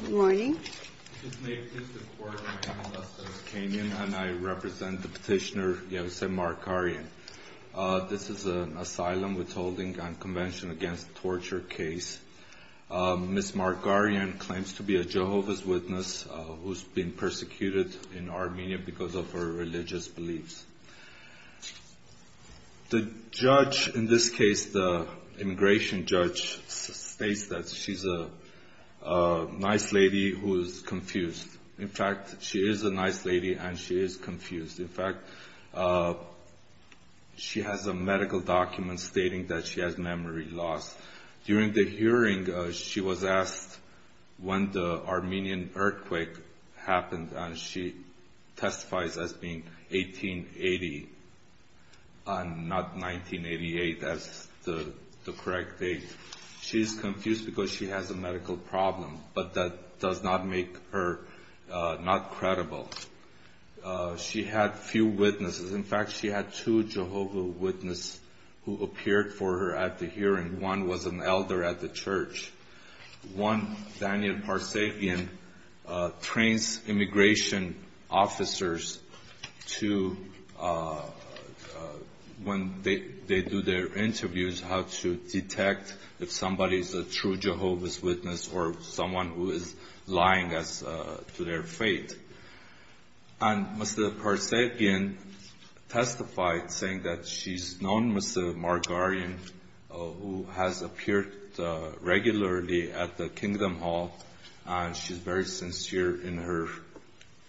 This is an asylum withholding on Convention Against Torture case. Ms. Markaryan claims to be a Jehovah's Witness who's been persecuted in Armenia because of her religious beliefs. The judge, in this case the immigration judge, states that she's a nice lady who's confused. In fact, she is a nice lady and she is confused. In fact, she has a medical document stating that she has memory loss. During the hearing, she was asked when the Armenian earthquake happened, and she testifies as being 1880 and not 1988 as the correct date. She's confused because she has a medical problem, but that does not make her not credible. She had few witnesses. In fact, she had two Jehovah's Witnesses who appeared for her at the hearing. One was an elder at the church. One, Daniel Parsepian, trains immigration officers to, when they do their interviews, how to detect if somebody's a true Jehovah's Witness or someone who is lying to their faith. Mr. Parsepian testified saying that she's known Mr. Markaryan who has appeared regularly at the Kingdom Hall. She's very sincere in her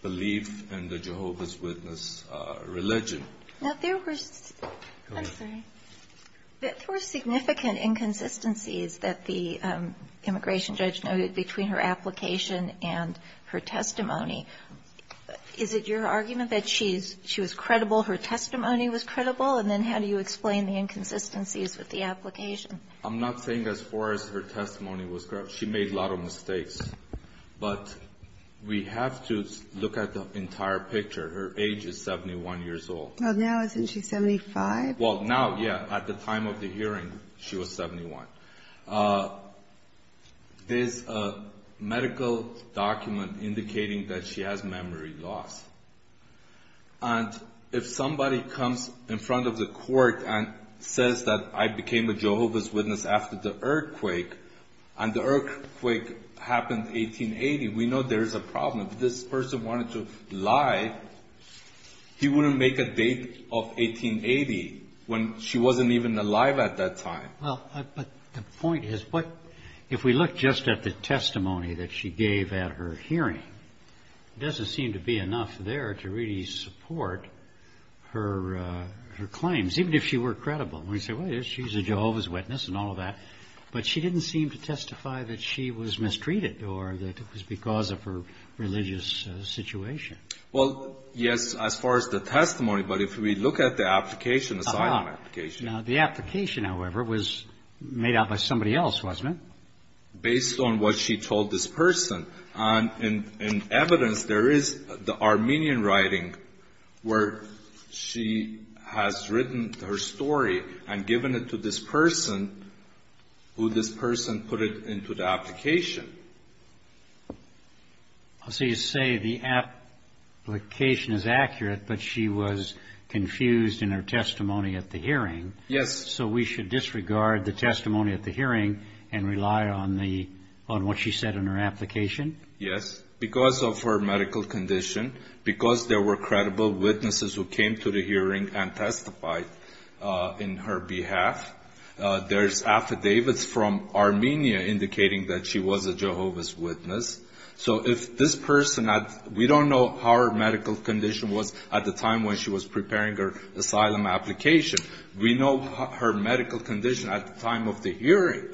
belief in the Jehovah's Witness religion. Now, there were significant inconsistencies that the immigration judge noted between her application and her testimony. Is it your argument that she was credible, her testimony was credible, and then how do you explain the inconsistencies with the application? I'm not saying as far as her testimony was correct. She made a lot of mistakes, but we have to look at the entire picture. Her age is 71 years old. Well, now isn't she 75? Well, now, yeah. At the time of the hearing, she was 71. There's a medical document indicating that she has memory loss. And if somebody comes in front of the court and says that I became a Jehovah's Witness after the earthquake, and the earthquake happened 1880, we know there is a problem. If this person wanted to lie, he wouldn't make a date of 1880 when she wasn't even alive at that time. Well, but the point is, if we look just at the testimony that she gave at her hearing, it doesn't seem to be enough there to really support her claims, even if she were credible. We say, well, she's a Jehovah's Witness and all of that, but she didn't seem to testify that she was mistreated or that it was because of her religious situation. Well, yes, as far as the testimony, but if we look at the application, the sign-on application. The application, however, was made out by somebody else, wasn't it? Based on what she told this person. In evidence, there is the Armenian writing where she has written her story and given it to this person, who this person put it into the application. So you say the application is accurate, but she was confused in her testimony at the hearing. Yes. So we should disregard the testimony at the hearing and rely on what she said in her application? Yes. Because of her medical condition, because there were credible witnesses who came to the hearing and testified in her behalf. There's affidavits from Armenia indicating that she was a Jehovah's Witness. So if this person, we don't know how her medical condition was at the time when she was preparing her asylum application. We know her medical condition at the time of the hearing.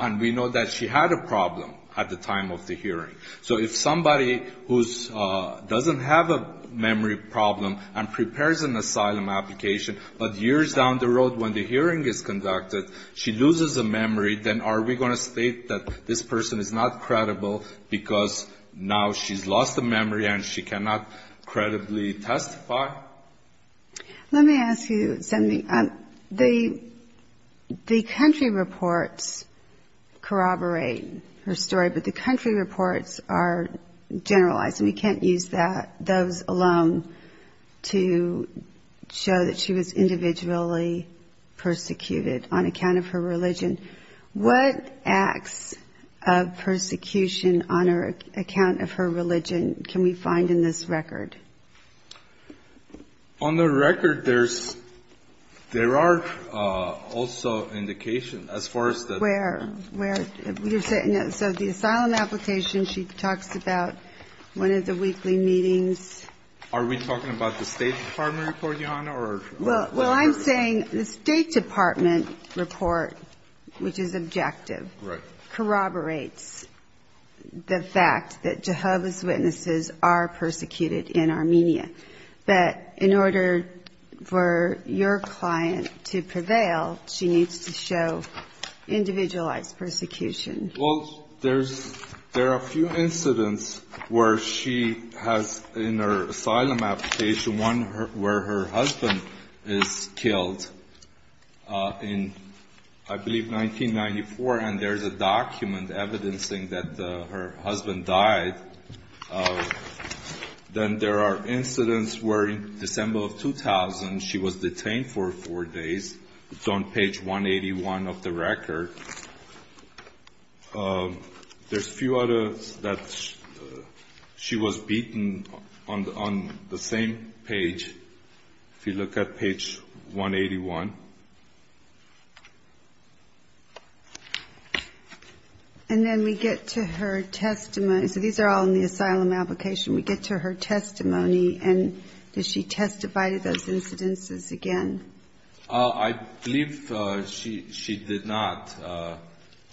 And we know that she had a problem at the time of the hearing. So if somebody who doesn't have a memory problem and prepares an asylum application, but years down the road when the hearing is conducted, she loses her memory, then are we going to state that this person is not credible because now she's lost her memory and she cannot credibly testify? Let me ask you something. The country reports corroborate her story, but the country reports are generalized, and we can't use those alone to show that she was individually persecuted on account of her religion. What acts of persecution on account of her religion can we find in this record? On the record, there's, there are also indications as far as the... So the asylum application, she talks about one of the weekly meetings. Are we talking about the State Department report, Your Honor, or... Well, I'm saying the State Department report, which is objective, corroborates the fact that Jehovah's Witnesses are persecuted in Armenia. But in order for your client to prevail, she needs to show individualized persecution. Well, there's, there are a few incidents where she has in her asylum application, one where her husband is killed in, I believe, 1994, and there's a document evidencing that her husband died. Then there are incidents where in December of 2000, she was detained for four days. It's on page 181 of the record. There's a few others that she was beaten on the same page, if you look at page 181. And then we get to her testimony. So these are all in the asylum application. We get to her testimony, and does she testify to those incidences again? I believe she did not.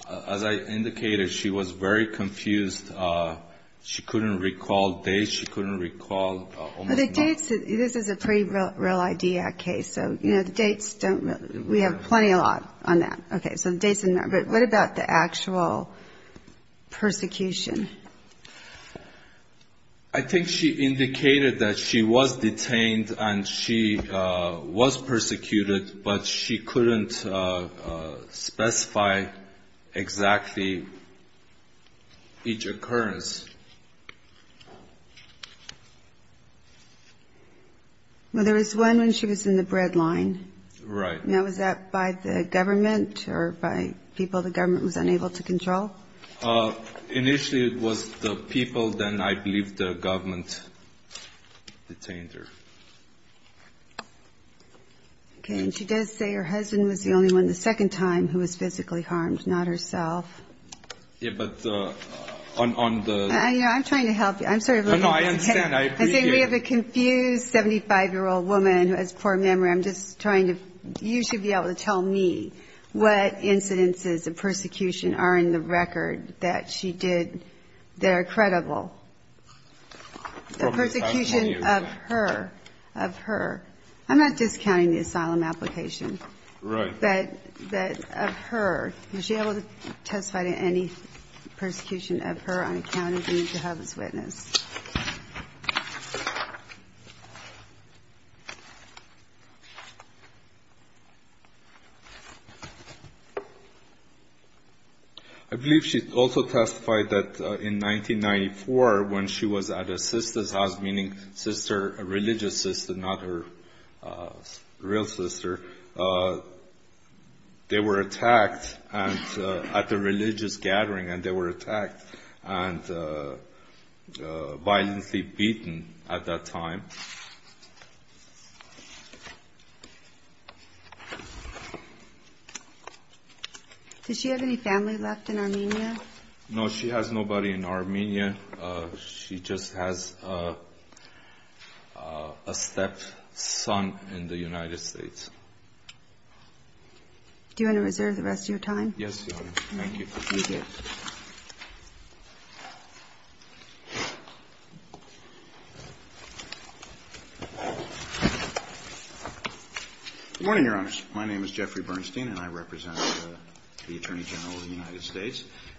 As I indicated, she was very confused. She couldn't recall dates. She couldn't recall almost nothing. The dates, this is a pre-Real ID Act case, so, you know, the dates don't really, we have plenty a lot on that. Okay. So the dates are not, but what about the actual persecution? I think she indicated that she was detained and she was persecuted, but she couldn't specify exactly each occurrence. Well, there was one when she was in the bread line. Right. Now, was that by the government or by people the government was unable to control? Initially, it was the people, then I believe the government detained her. Okay. And she does say her husband was the only one the second time who was physically harmed, not herself. Yeah, but on the... I'm trying to help you. I'm sorry. No, I understand. I agree. I think we have a confused 75-year-old woman who has poor memory. I'm just trying to, you should be able to tell me what incidences of persecution are in the record that she did that are credible. The persecution of her, of her. I'm not discounting the asylum application. Right. But of her, was she able to testify to any persecution of her on account of being Jehovah's Witness? I believe she also testified that in 1994, when she was at her sister's house, meaning sister, a religious sister, not her real sister, they were attacked at the religious gathering and they were attacked and violently beaten at that time. Does she have any family left in Armenia? No, she has nobody in Armenia. She just has a stepson in the United States. Do you want to reserve the rest of your time? Yes, Your Honor. Thank you.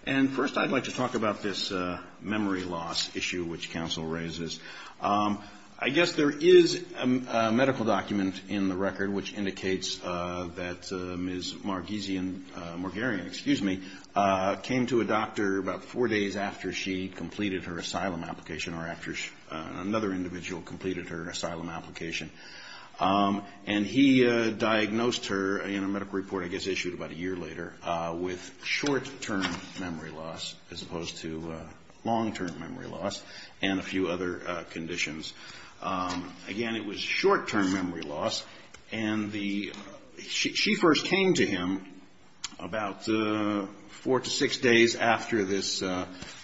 And first I'd like to talk about this memory loss issue which counsel raises. I guess there is a medical document in the record which indicates that Ms. Margeesian, Morgarian, excuse me, came to a doctor about four days after she completed her asylum application or after another individual completed her asylum application. And he diagnosed her in a medical report, I guess issued about a year later, with short-term memory loss as opposed to long-term memory loss and a few other conditions. Again, it was short-term memory loss. And she first came to him about four to six days after this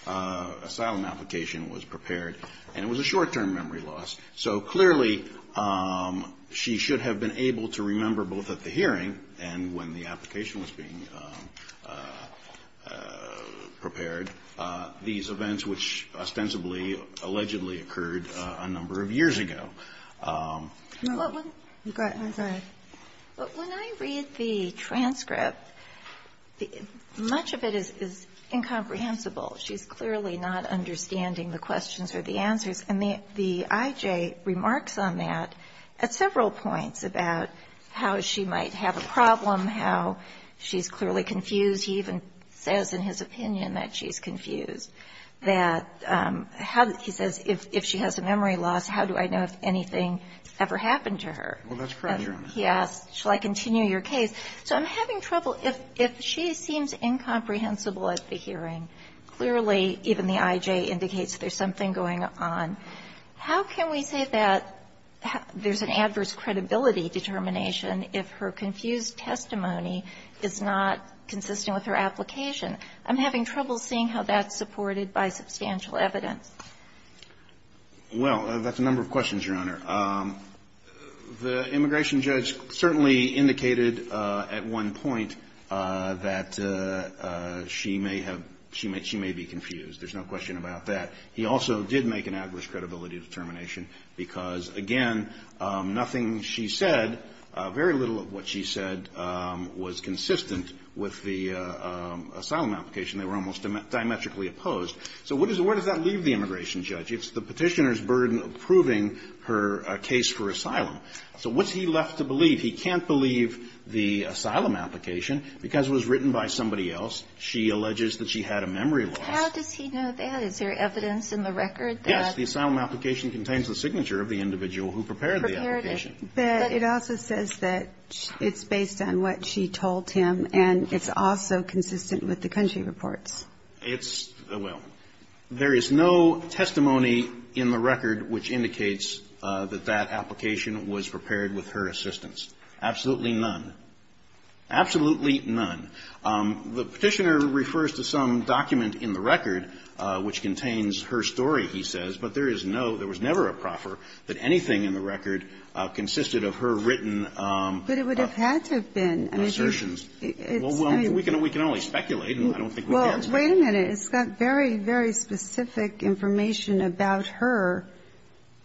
asylum application was prepared and it was a short-term memory loss. So clearly she should have been able to remember both at the hearing and when the application was being prepared these events which ostensibly allegedly occurred a number of years ago. But when I read the transcript, much of it is incomprehensible. She's clearly not understanding the questions or the answers. And the I.J. remarks on that at several points about how she might have a problem, how she's clearly confused. He even says in his opinion that she's confused, that how he says if she has a memory loss, how do I know if anything ever happened to her? Well, that's part of the argument. Yes. Shall I continue your case? So I'm having trouble. If she seems incomprehensible at the hearing, clearly even the I.J. indicates there's something going on. How can we say that there's an adverse credibility determination if her confused testimony is not consistent with her application? I'm having trouble seeing how that's supported by substantial evidence. Well, that's a number of questions, Your Honor. The immigration judge certainly indicated at one point that she may have – she may be confused. There's no question about that. He also did make an adverse credibility determination because, again, nothing she said, very little of what she said, was consistent with the asylum application. They were almost diametrically opposed. So where does that leave the immigration judge? It's the Petitioner's burden of proving her case for asylum. So what's he left to believe? He can't believe the asylum application because it was written by somebody else. She alleges that she had a memory loss. How does he know that? Is there evidence in the record that – Yes. The asylum application contains the signature of the individual who prepared the application. But it also says that it's based on what she told him, and it's also consistent with the country reports. It's – well, there is no testimony in the record which indicates that that application was prepared with her assistance. Absolutely none. Absolutely none. The Petitioner refers to some document in the record which contains her story, he says, but there is no – there was never a proffer that anything in the record consisted of her written assertions. But it would have had to have been. Well, we can only speculate, and I don't think we can – Well, wait a minute. It's got very, very specific information about her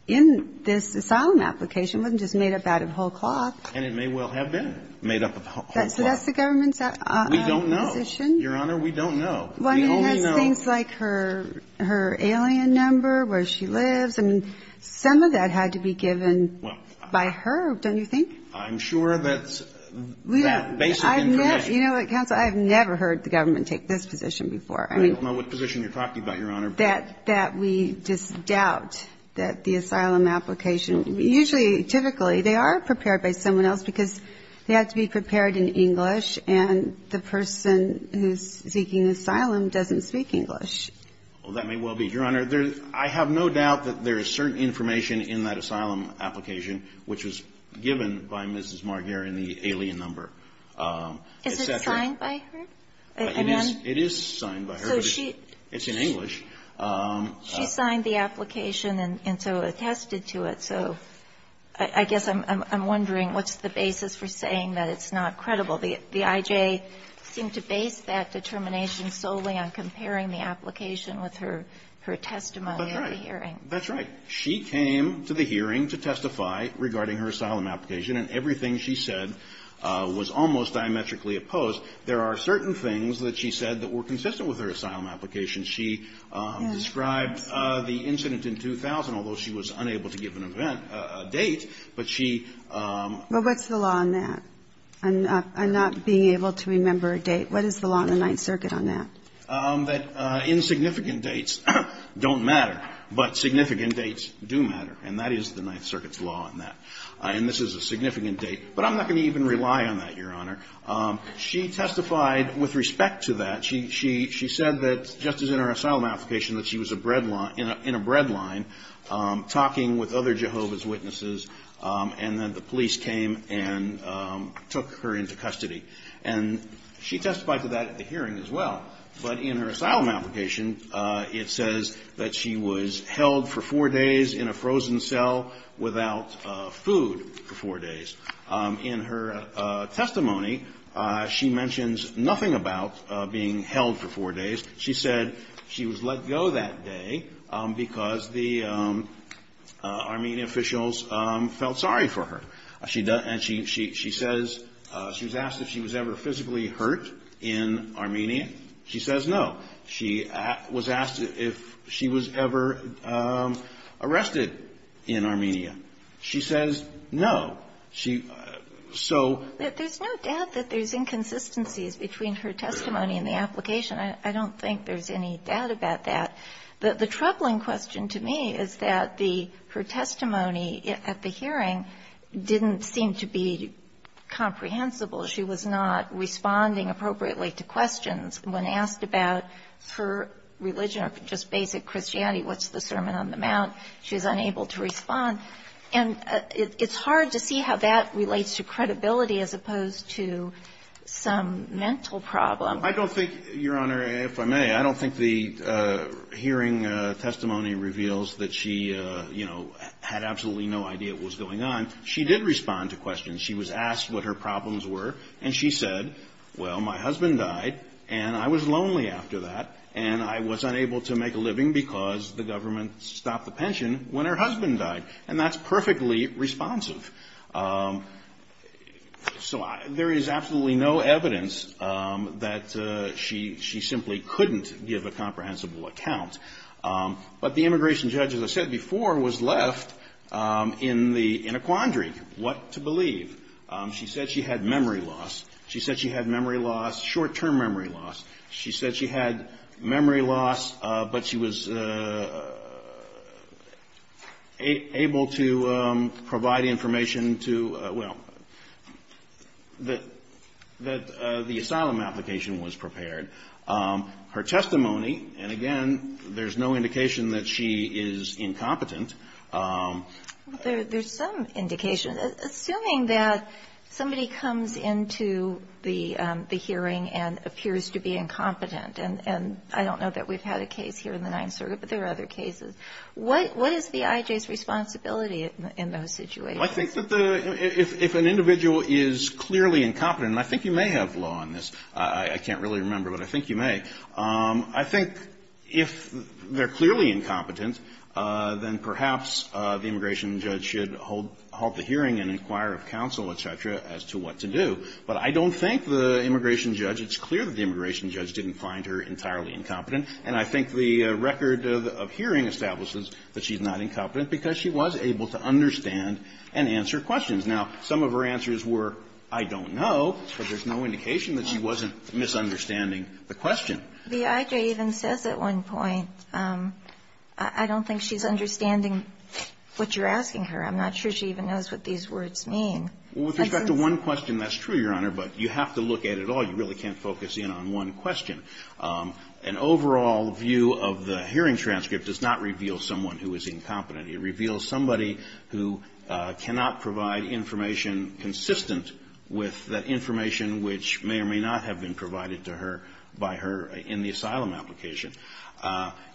in this asylum application. It wasn't just made up out of whole cloth. And it may well have been made up of whole cloth. So that's the government's position? We don't know, Your Honor. We don't know. We only know – Well, I mean, it has things like her alien number, where she lives. I mean, some of that had to be given by her, don't you think? I'm sure that's that basic information. You know what, counsel, I have never heard the government take this position before. I mean – I don't know what position you're talking about, Your Honor, but – That we just doubt that the asylum application – usually, typically, they are prepared by someone else because they had to be prepared in English, and the person who's seeking asylum doesn't speak English. Well, that may well be, Your Honor. I have no doubt that there is certain information in that asylum application which was given by Mrs. Marguer in the alien number, et cetera. Is it signed by her? It is. It is signed by her. So she – It's in English. She signed the application and so attested to it. So I guess I'm wondering, what's the basis for saying that it's not credible? The I.J. seemed to base that determination solely on comparing the application with her testimony at the hearing. That's right. That's right. She came to the hearing to testify regarding her asylum application, and everything she said was almost diametrically opposed. There are certain things that she said that were consistent with her asylum application. She described the incident in 2000, although she was unable to give an event – a date, but she – But what's the law on that? I'm not being able to remember a date. What is the law in the Ninth Circuit on that? That insignificant dates don't matter, but significant dates do matter, and that is the Ninth Circuit's law on that. And this is a significant date. But I'm not going to even rely on that, Your Honor. She testified with respect to that. She said that, just as in her asylum application, that she was in a bread line talking with other Jehovah's Witnesses, and that the police came and took her into custody. And she testified to that at the hearing as well. But in her asylum application, it says that she was held for four days in a frozen cell without food for four days. In her testimony, she mentions nothing about being held for four days. She said she was let go that day because the Armenian officials felt sorry for her. She says – she was asked if she was ever physically hurt in Armenia. She says no. She was asked if she was ever arrested in Armenia. She says no. She – so – There's no doubt that there's inconsistencies between her testimony and the application. I don't think there's any doubt about that. The troubling question to me is that the – her testimony at the hearing didn't seem to be comprehensible. She was not responding appropriately to questions. When asked about her religion or just basic Christianity, what's the Sermon on the Mount, she was unable to respond. And it's hard to see how that relates to credibility as opposed to some mental problem. I don't think, Your Honor, if I may, I don't think the hearing testimony reveals that she, you know, had absolutely no idea what was going on. She did respond to questions. She was asked what her problems were, and she said, well, my husband died, and I was lonely after that, and I was unable to make a living because the government stopped the pension when her husband died. And that's perfectly responsive. So there is absolutely no evidence that she simply couldn't give a comprehensible account. But the immigration judge, as I said before, was left in a quandary. What to believe? She said she had memory loss. She said she had memory loss, short-term memory loss. She said she had memory loss, but she was able to provide information to, well, that the asylum application was prepared. Her testimony, and again, there's no indication that she is incompetent. There's some indication, assuming that somebody comes into the hearing and appears to be incompetent, and I don't know that we've had a case here in the Ninth Circuit, but there are other cases. What is the I.J.'s responsibility in those situations? I think that if an individual is clearly incompetent, and I think you may have law on this. I can't really remember, but I think you may. I think if they're clearly incompetent, then perhaps the immigration judge should hold the hearing and inquire of counsel, et cetera, as to what to do. But I don't think the immigration judge, it's clear that the immigration judge didn't find her entirely incompetent. And I think the record of hearing establishes that she's not incompetent because she was able to understand and answer questions. Now, some of her answers were, I don't know, but there's no indication that she wasn't misunderstanding the question. The I.J. even says at one point, I don't think she's understanding what you're asking her. I'm not sure she even knows what these words mean. With respect to one question, that's true, Your Honor, but you have to look at it all. You really can't focus in on one question. An overall view of the hearing transcript does not reveal someone who is incompetent. It reveals somebody who cannot provide information consistent with that information which may or may not have been provided to her by her in the asylum application.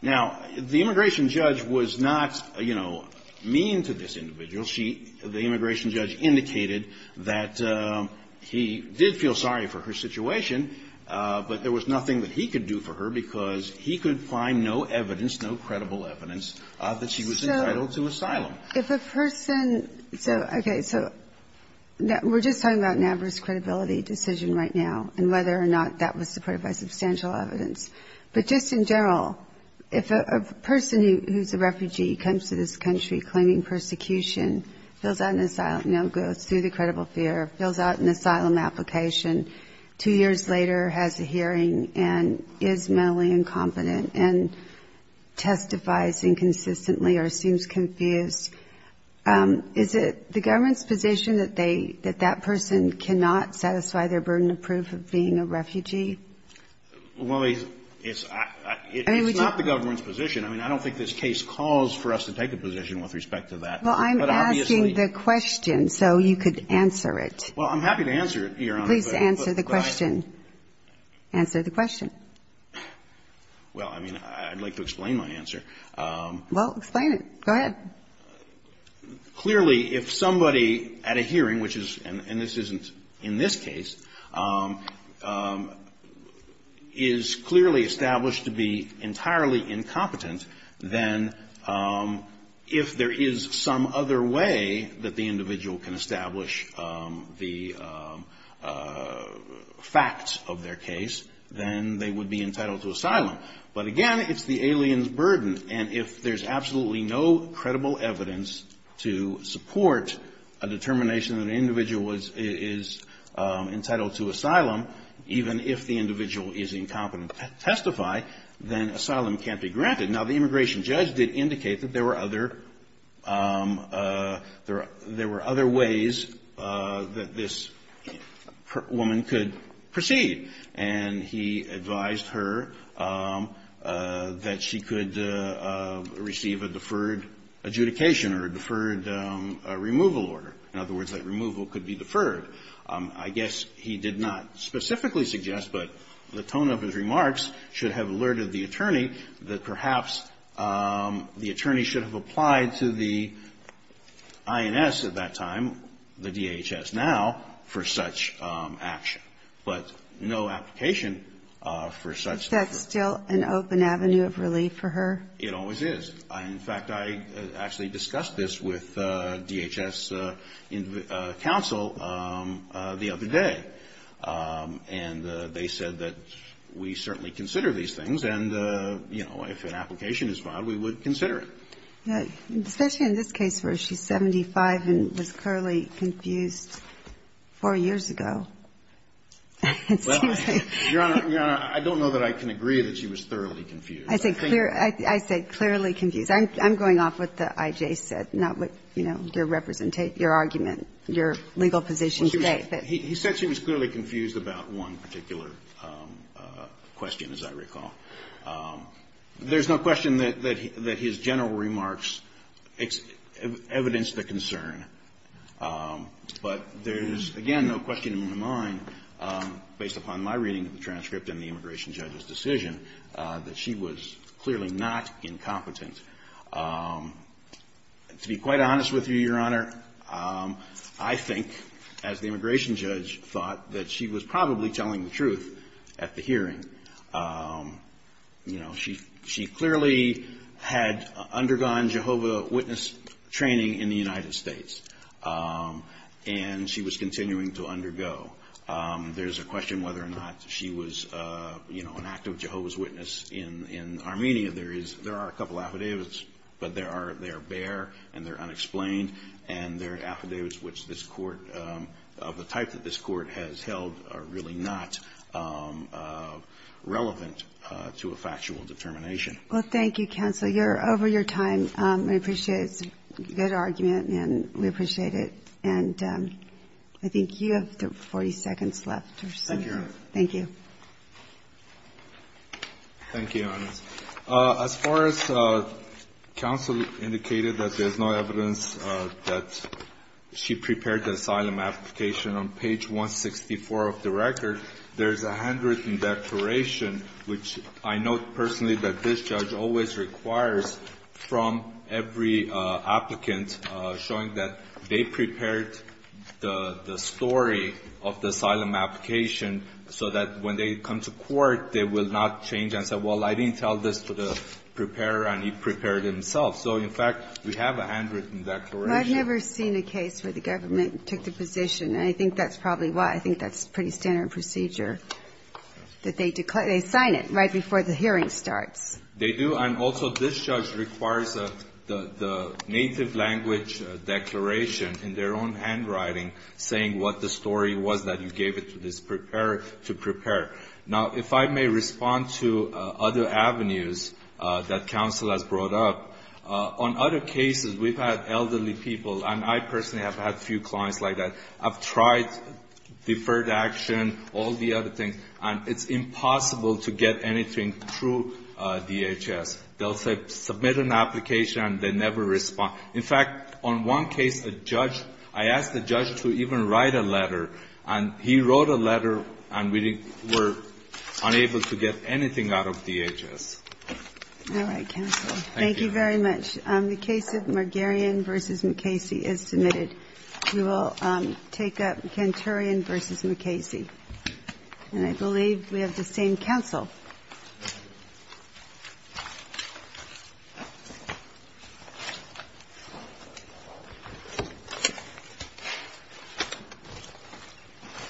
Now, the immigration judge was not, you know, mean to this individual. She, the immigration judge, indicated that he did feel sorry for her situation, but there was nothing that he could do for her because he could find no evidence, If a person, so, okay, so we're just talking about an adverse credibility decision right now and whether or not that was supported by substantial evidence. But just in general, if a person who's a refugee comes to this country claiming persecution, fills out an asylum, you know, goes through the credible fear, fills out an asylum application, two years later has a hearing and is mentally incompetent and testifies inconsistently or seems confused, is it the government's position that they, that that person cannot satisfy their burden of proof of being a refugee? Well, it's not the government's position. I mean, I don't think this case calls for us to take a position with respect to that. Well, I'm asking the question so you could answer it. Well, I'm happy to answer it, Your Honor. Please answer the question. Answer the question. Well, I mean, I'd like to explain my answer. Well, explain it. Go ahead. Clearly, if somebody at a hearing, which is, and this isn't in this case, is clearly established to be entirely incompetent, then if there is some other way that the individual can establish the facts of their case, then they would be entitled to asylum. But again, it's the alien's burden, and if there's absolutely no credible evidence to support a determination that an individual is entitled to asylum, even if the individual is incompetent to testify, then asylum can't be granted. Now, the immigration judge did indicate that there were other ways that this woman could proceed, and he advised her that she could receive a deferred adjudication or a deferred removal order. In other words, that removal could be deferred. I guess he did not specifically suggest, but the tone of his remarks should have alerted the attorney that perhaps the attorney should have applied to the INS at that time, the DHS now, for such action. But no application for such. Is that still an open avenue of relief for her? It always is. In fact, I actually discussed this with DHS counsel the other day, and they said that we certainly consider these things, and, you know, if an application is filed, we would consider it. Especially in this case where she's 75 and was clearly confused 4 years ago. Well, Your Honor, I don't know that I can agree that she was thoroughly confused. I said clearly confused. I'm going off what the I.J. said, not what, you know, your argument, your legal position today. He said she was clearly confused about one particular question, as I recall. There's no question that his general remarks evidenced the concern. But there's, again, no question in my mind, based upon my reading of the transcript and the immigration judge's decision, that she was clearly not incompetent. To be quite honest with you, Your Honor, I think, as the immigration judge thought, that she was probably telling the truth at the hearing. You know, she clearly had undergone Jehovah's Witness training in the United States. And she was continuing to undergo. There's a question whether or not she was, you know, an active Jehovah's Witness in Armenia. There are a couple affidavits, but they are bare and they're unexplained. And they're affidavits which this court, of the type that this court has held, are really not relevant to a factual determination. Well, thank you, counsel. You're over your time. We appreciate it. It's a good argument, and we appreciate it. And I think you have 40 seconds left or so. Thank you, Your Honor. Thank you. Thank you, Your Honor. As far as counsel indicated that there's no evidence that she prepared the asylum application, on page 164 of the record, there's a handwritten declaration, which I note personally that this judge always requires from every applicant, showing that they prepared the story of the asylum application so that when they come to court, they will not change and say, well, I didn't tell this to the preparer and he prepared it himself. So, in fact, we have a handwritten declaration. Well, I've never seen a case where the government took the position, and I think that's probably why. I think that's pretty standard procedure, that they sign it right before the hearing starts. They do. And also this judge requires the native language declaration in their own handwriting saying what the story was that you gave it to this preparer to prepare. Now, if I may respond to other avenues that counsel has brought up, on other cases we've had elderly people, and I personally have had a few clients like that, I've tried deferred action, all the other things, and it's impossible to get anything through DHS. They'll submit an application and they never respond. In fact, on one case, a judge, I asked the judge to even write a letter, and he wrote a letter and we were unable to get anything out of DHS. All right, counsel. Thank you. Thank you very much. The case of Margarian v. MacCasey is submitted. We will take up Canturian v. MacCasey. And I believe we have the same counsel. Thank you very much.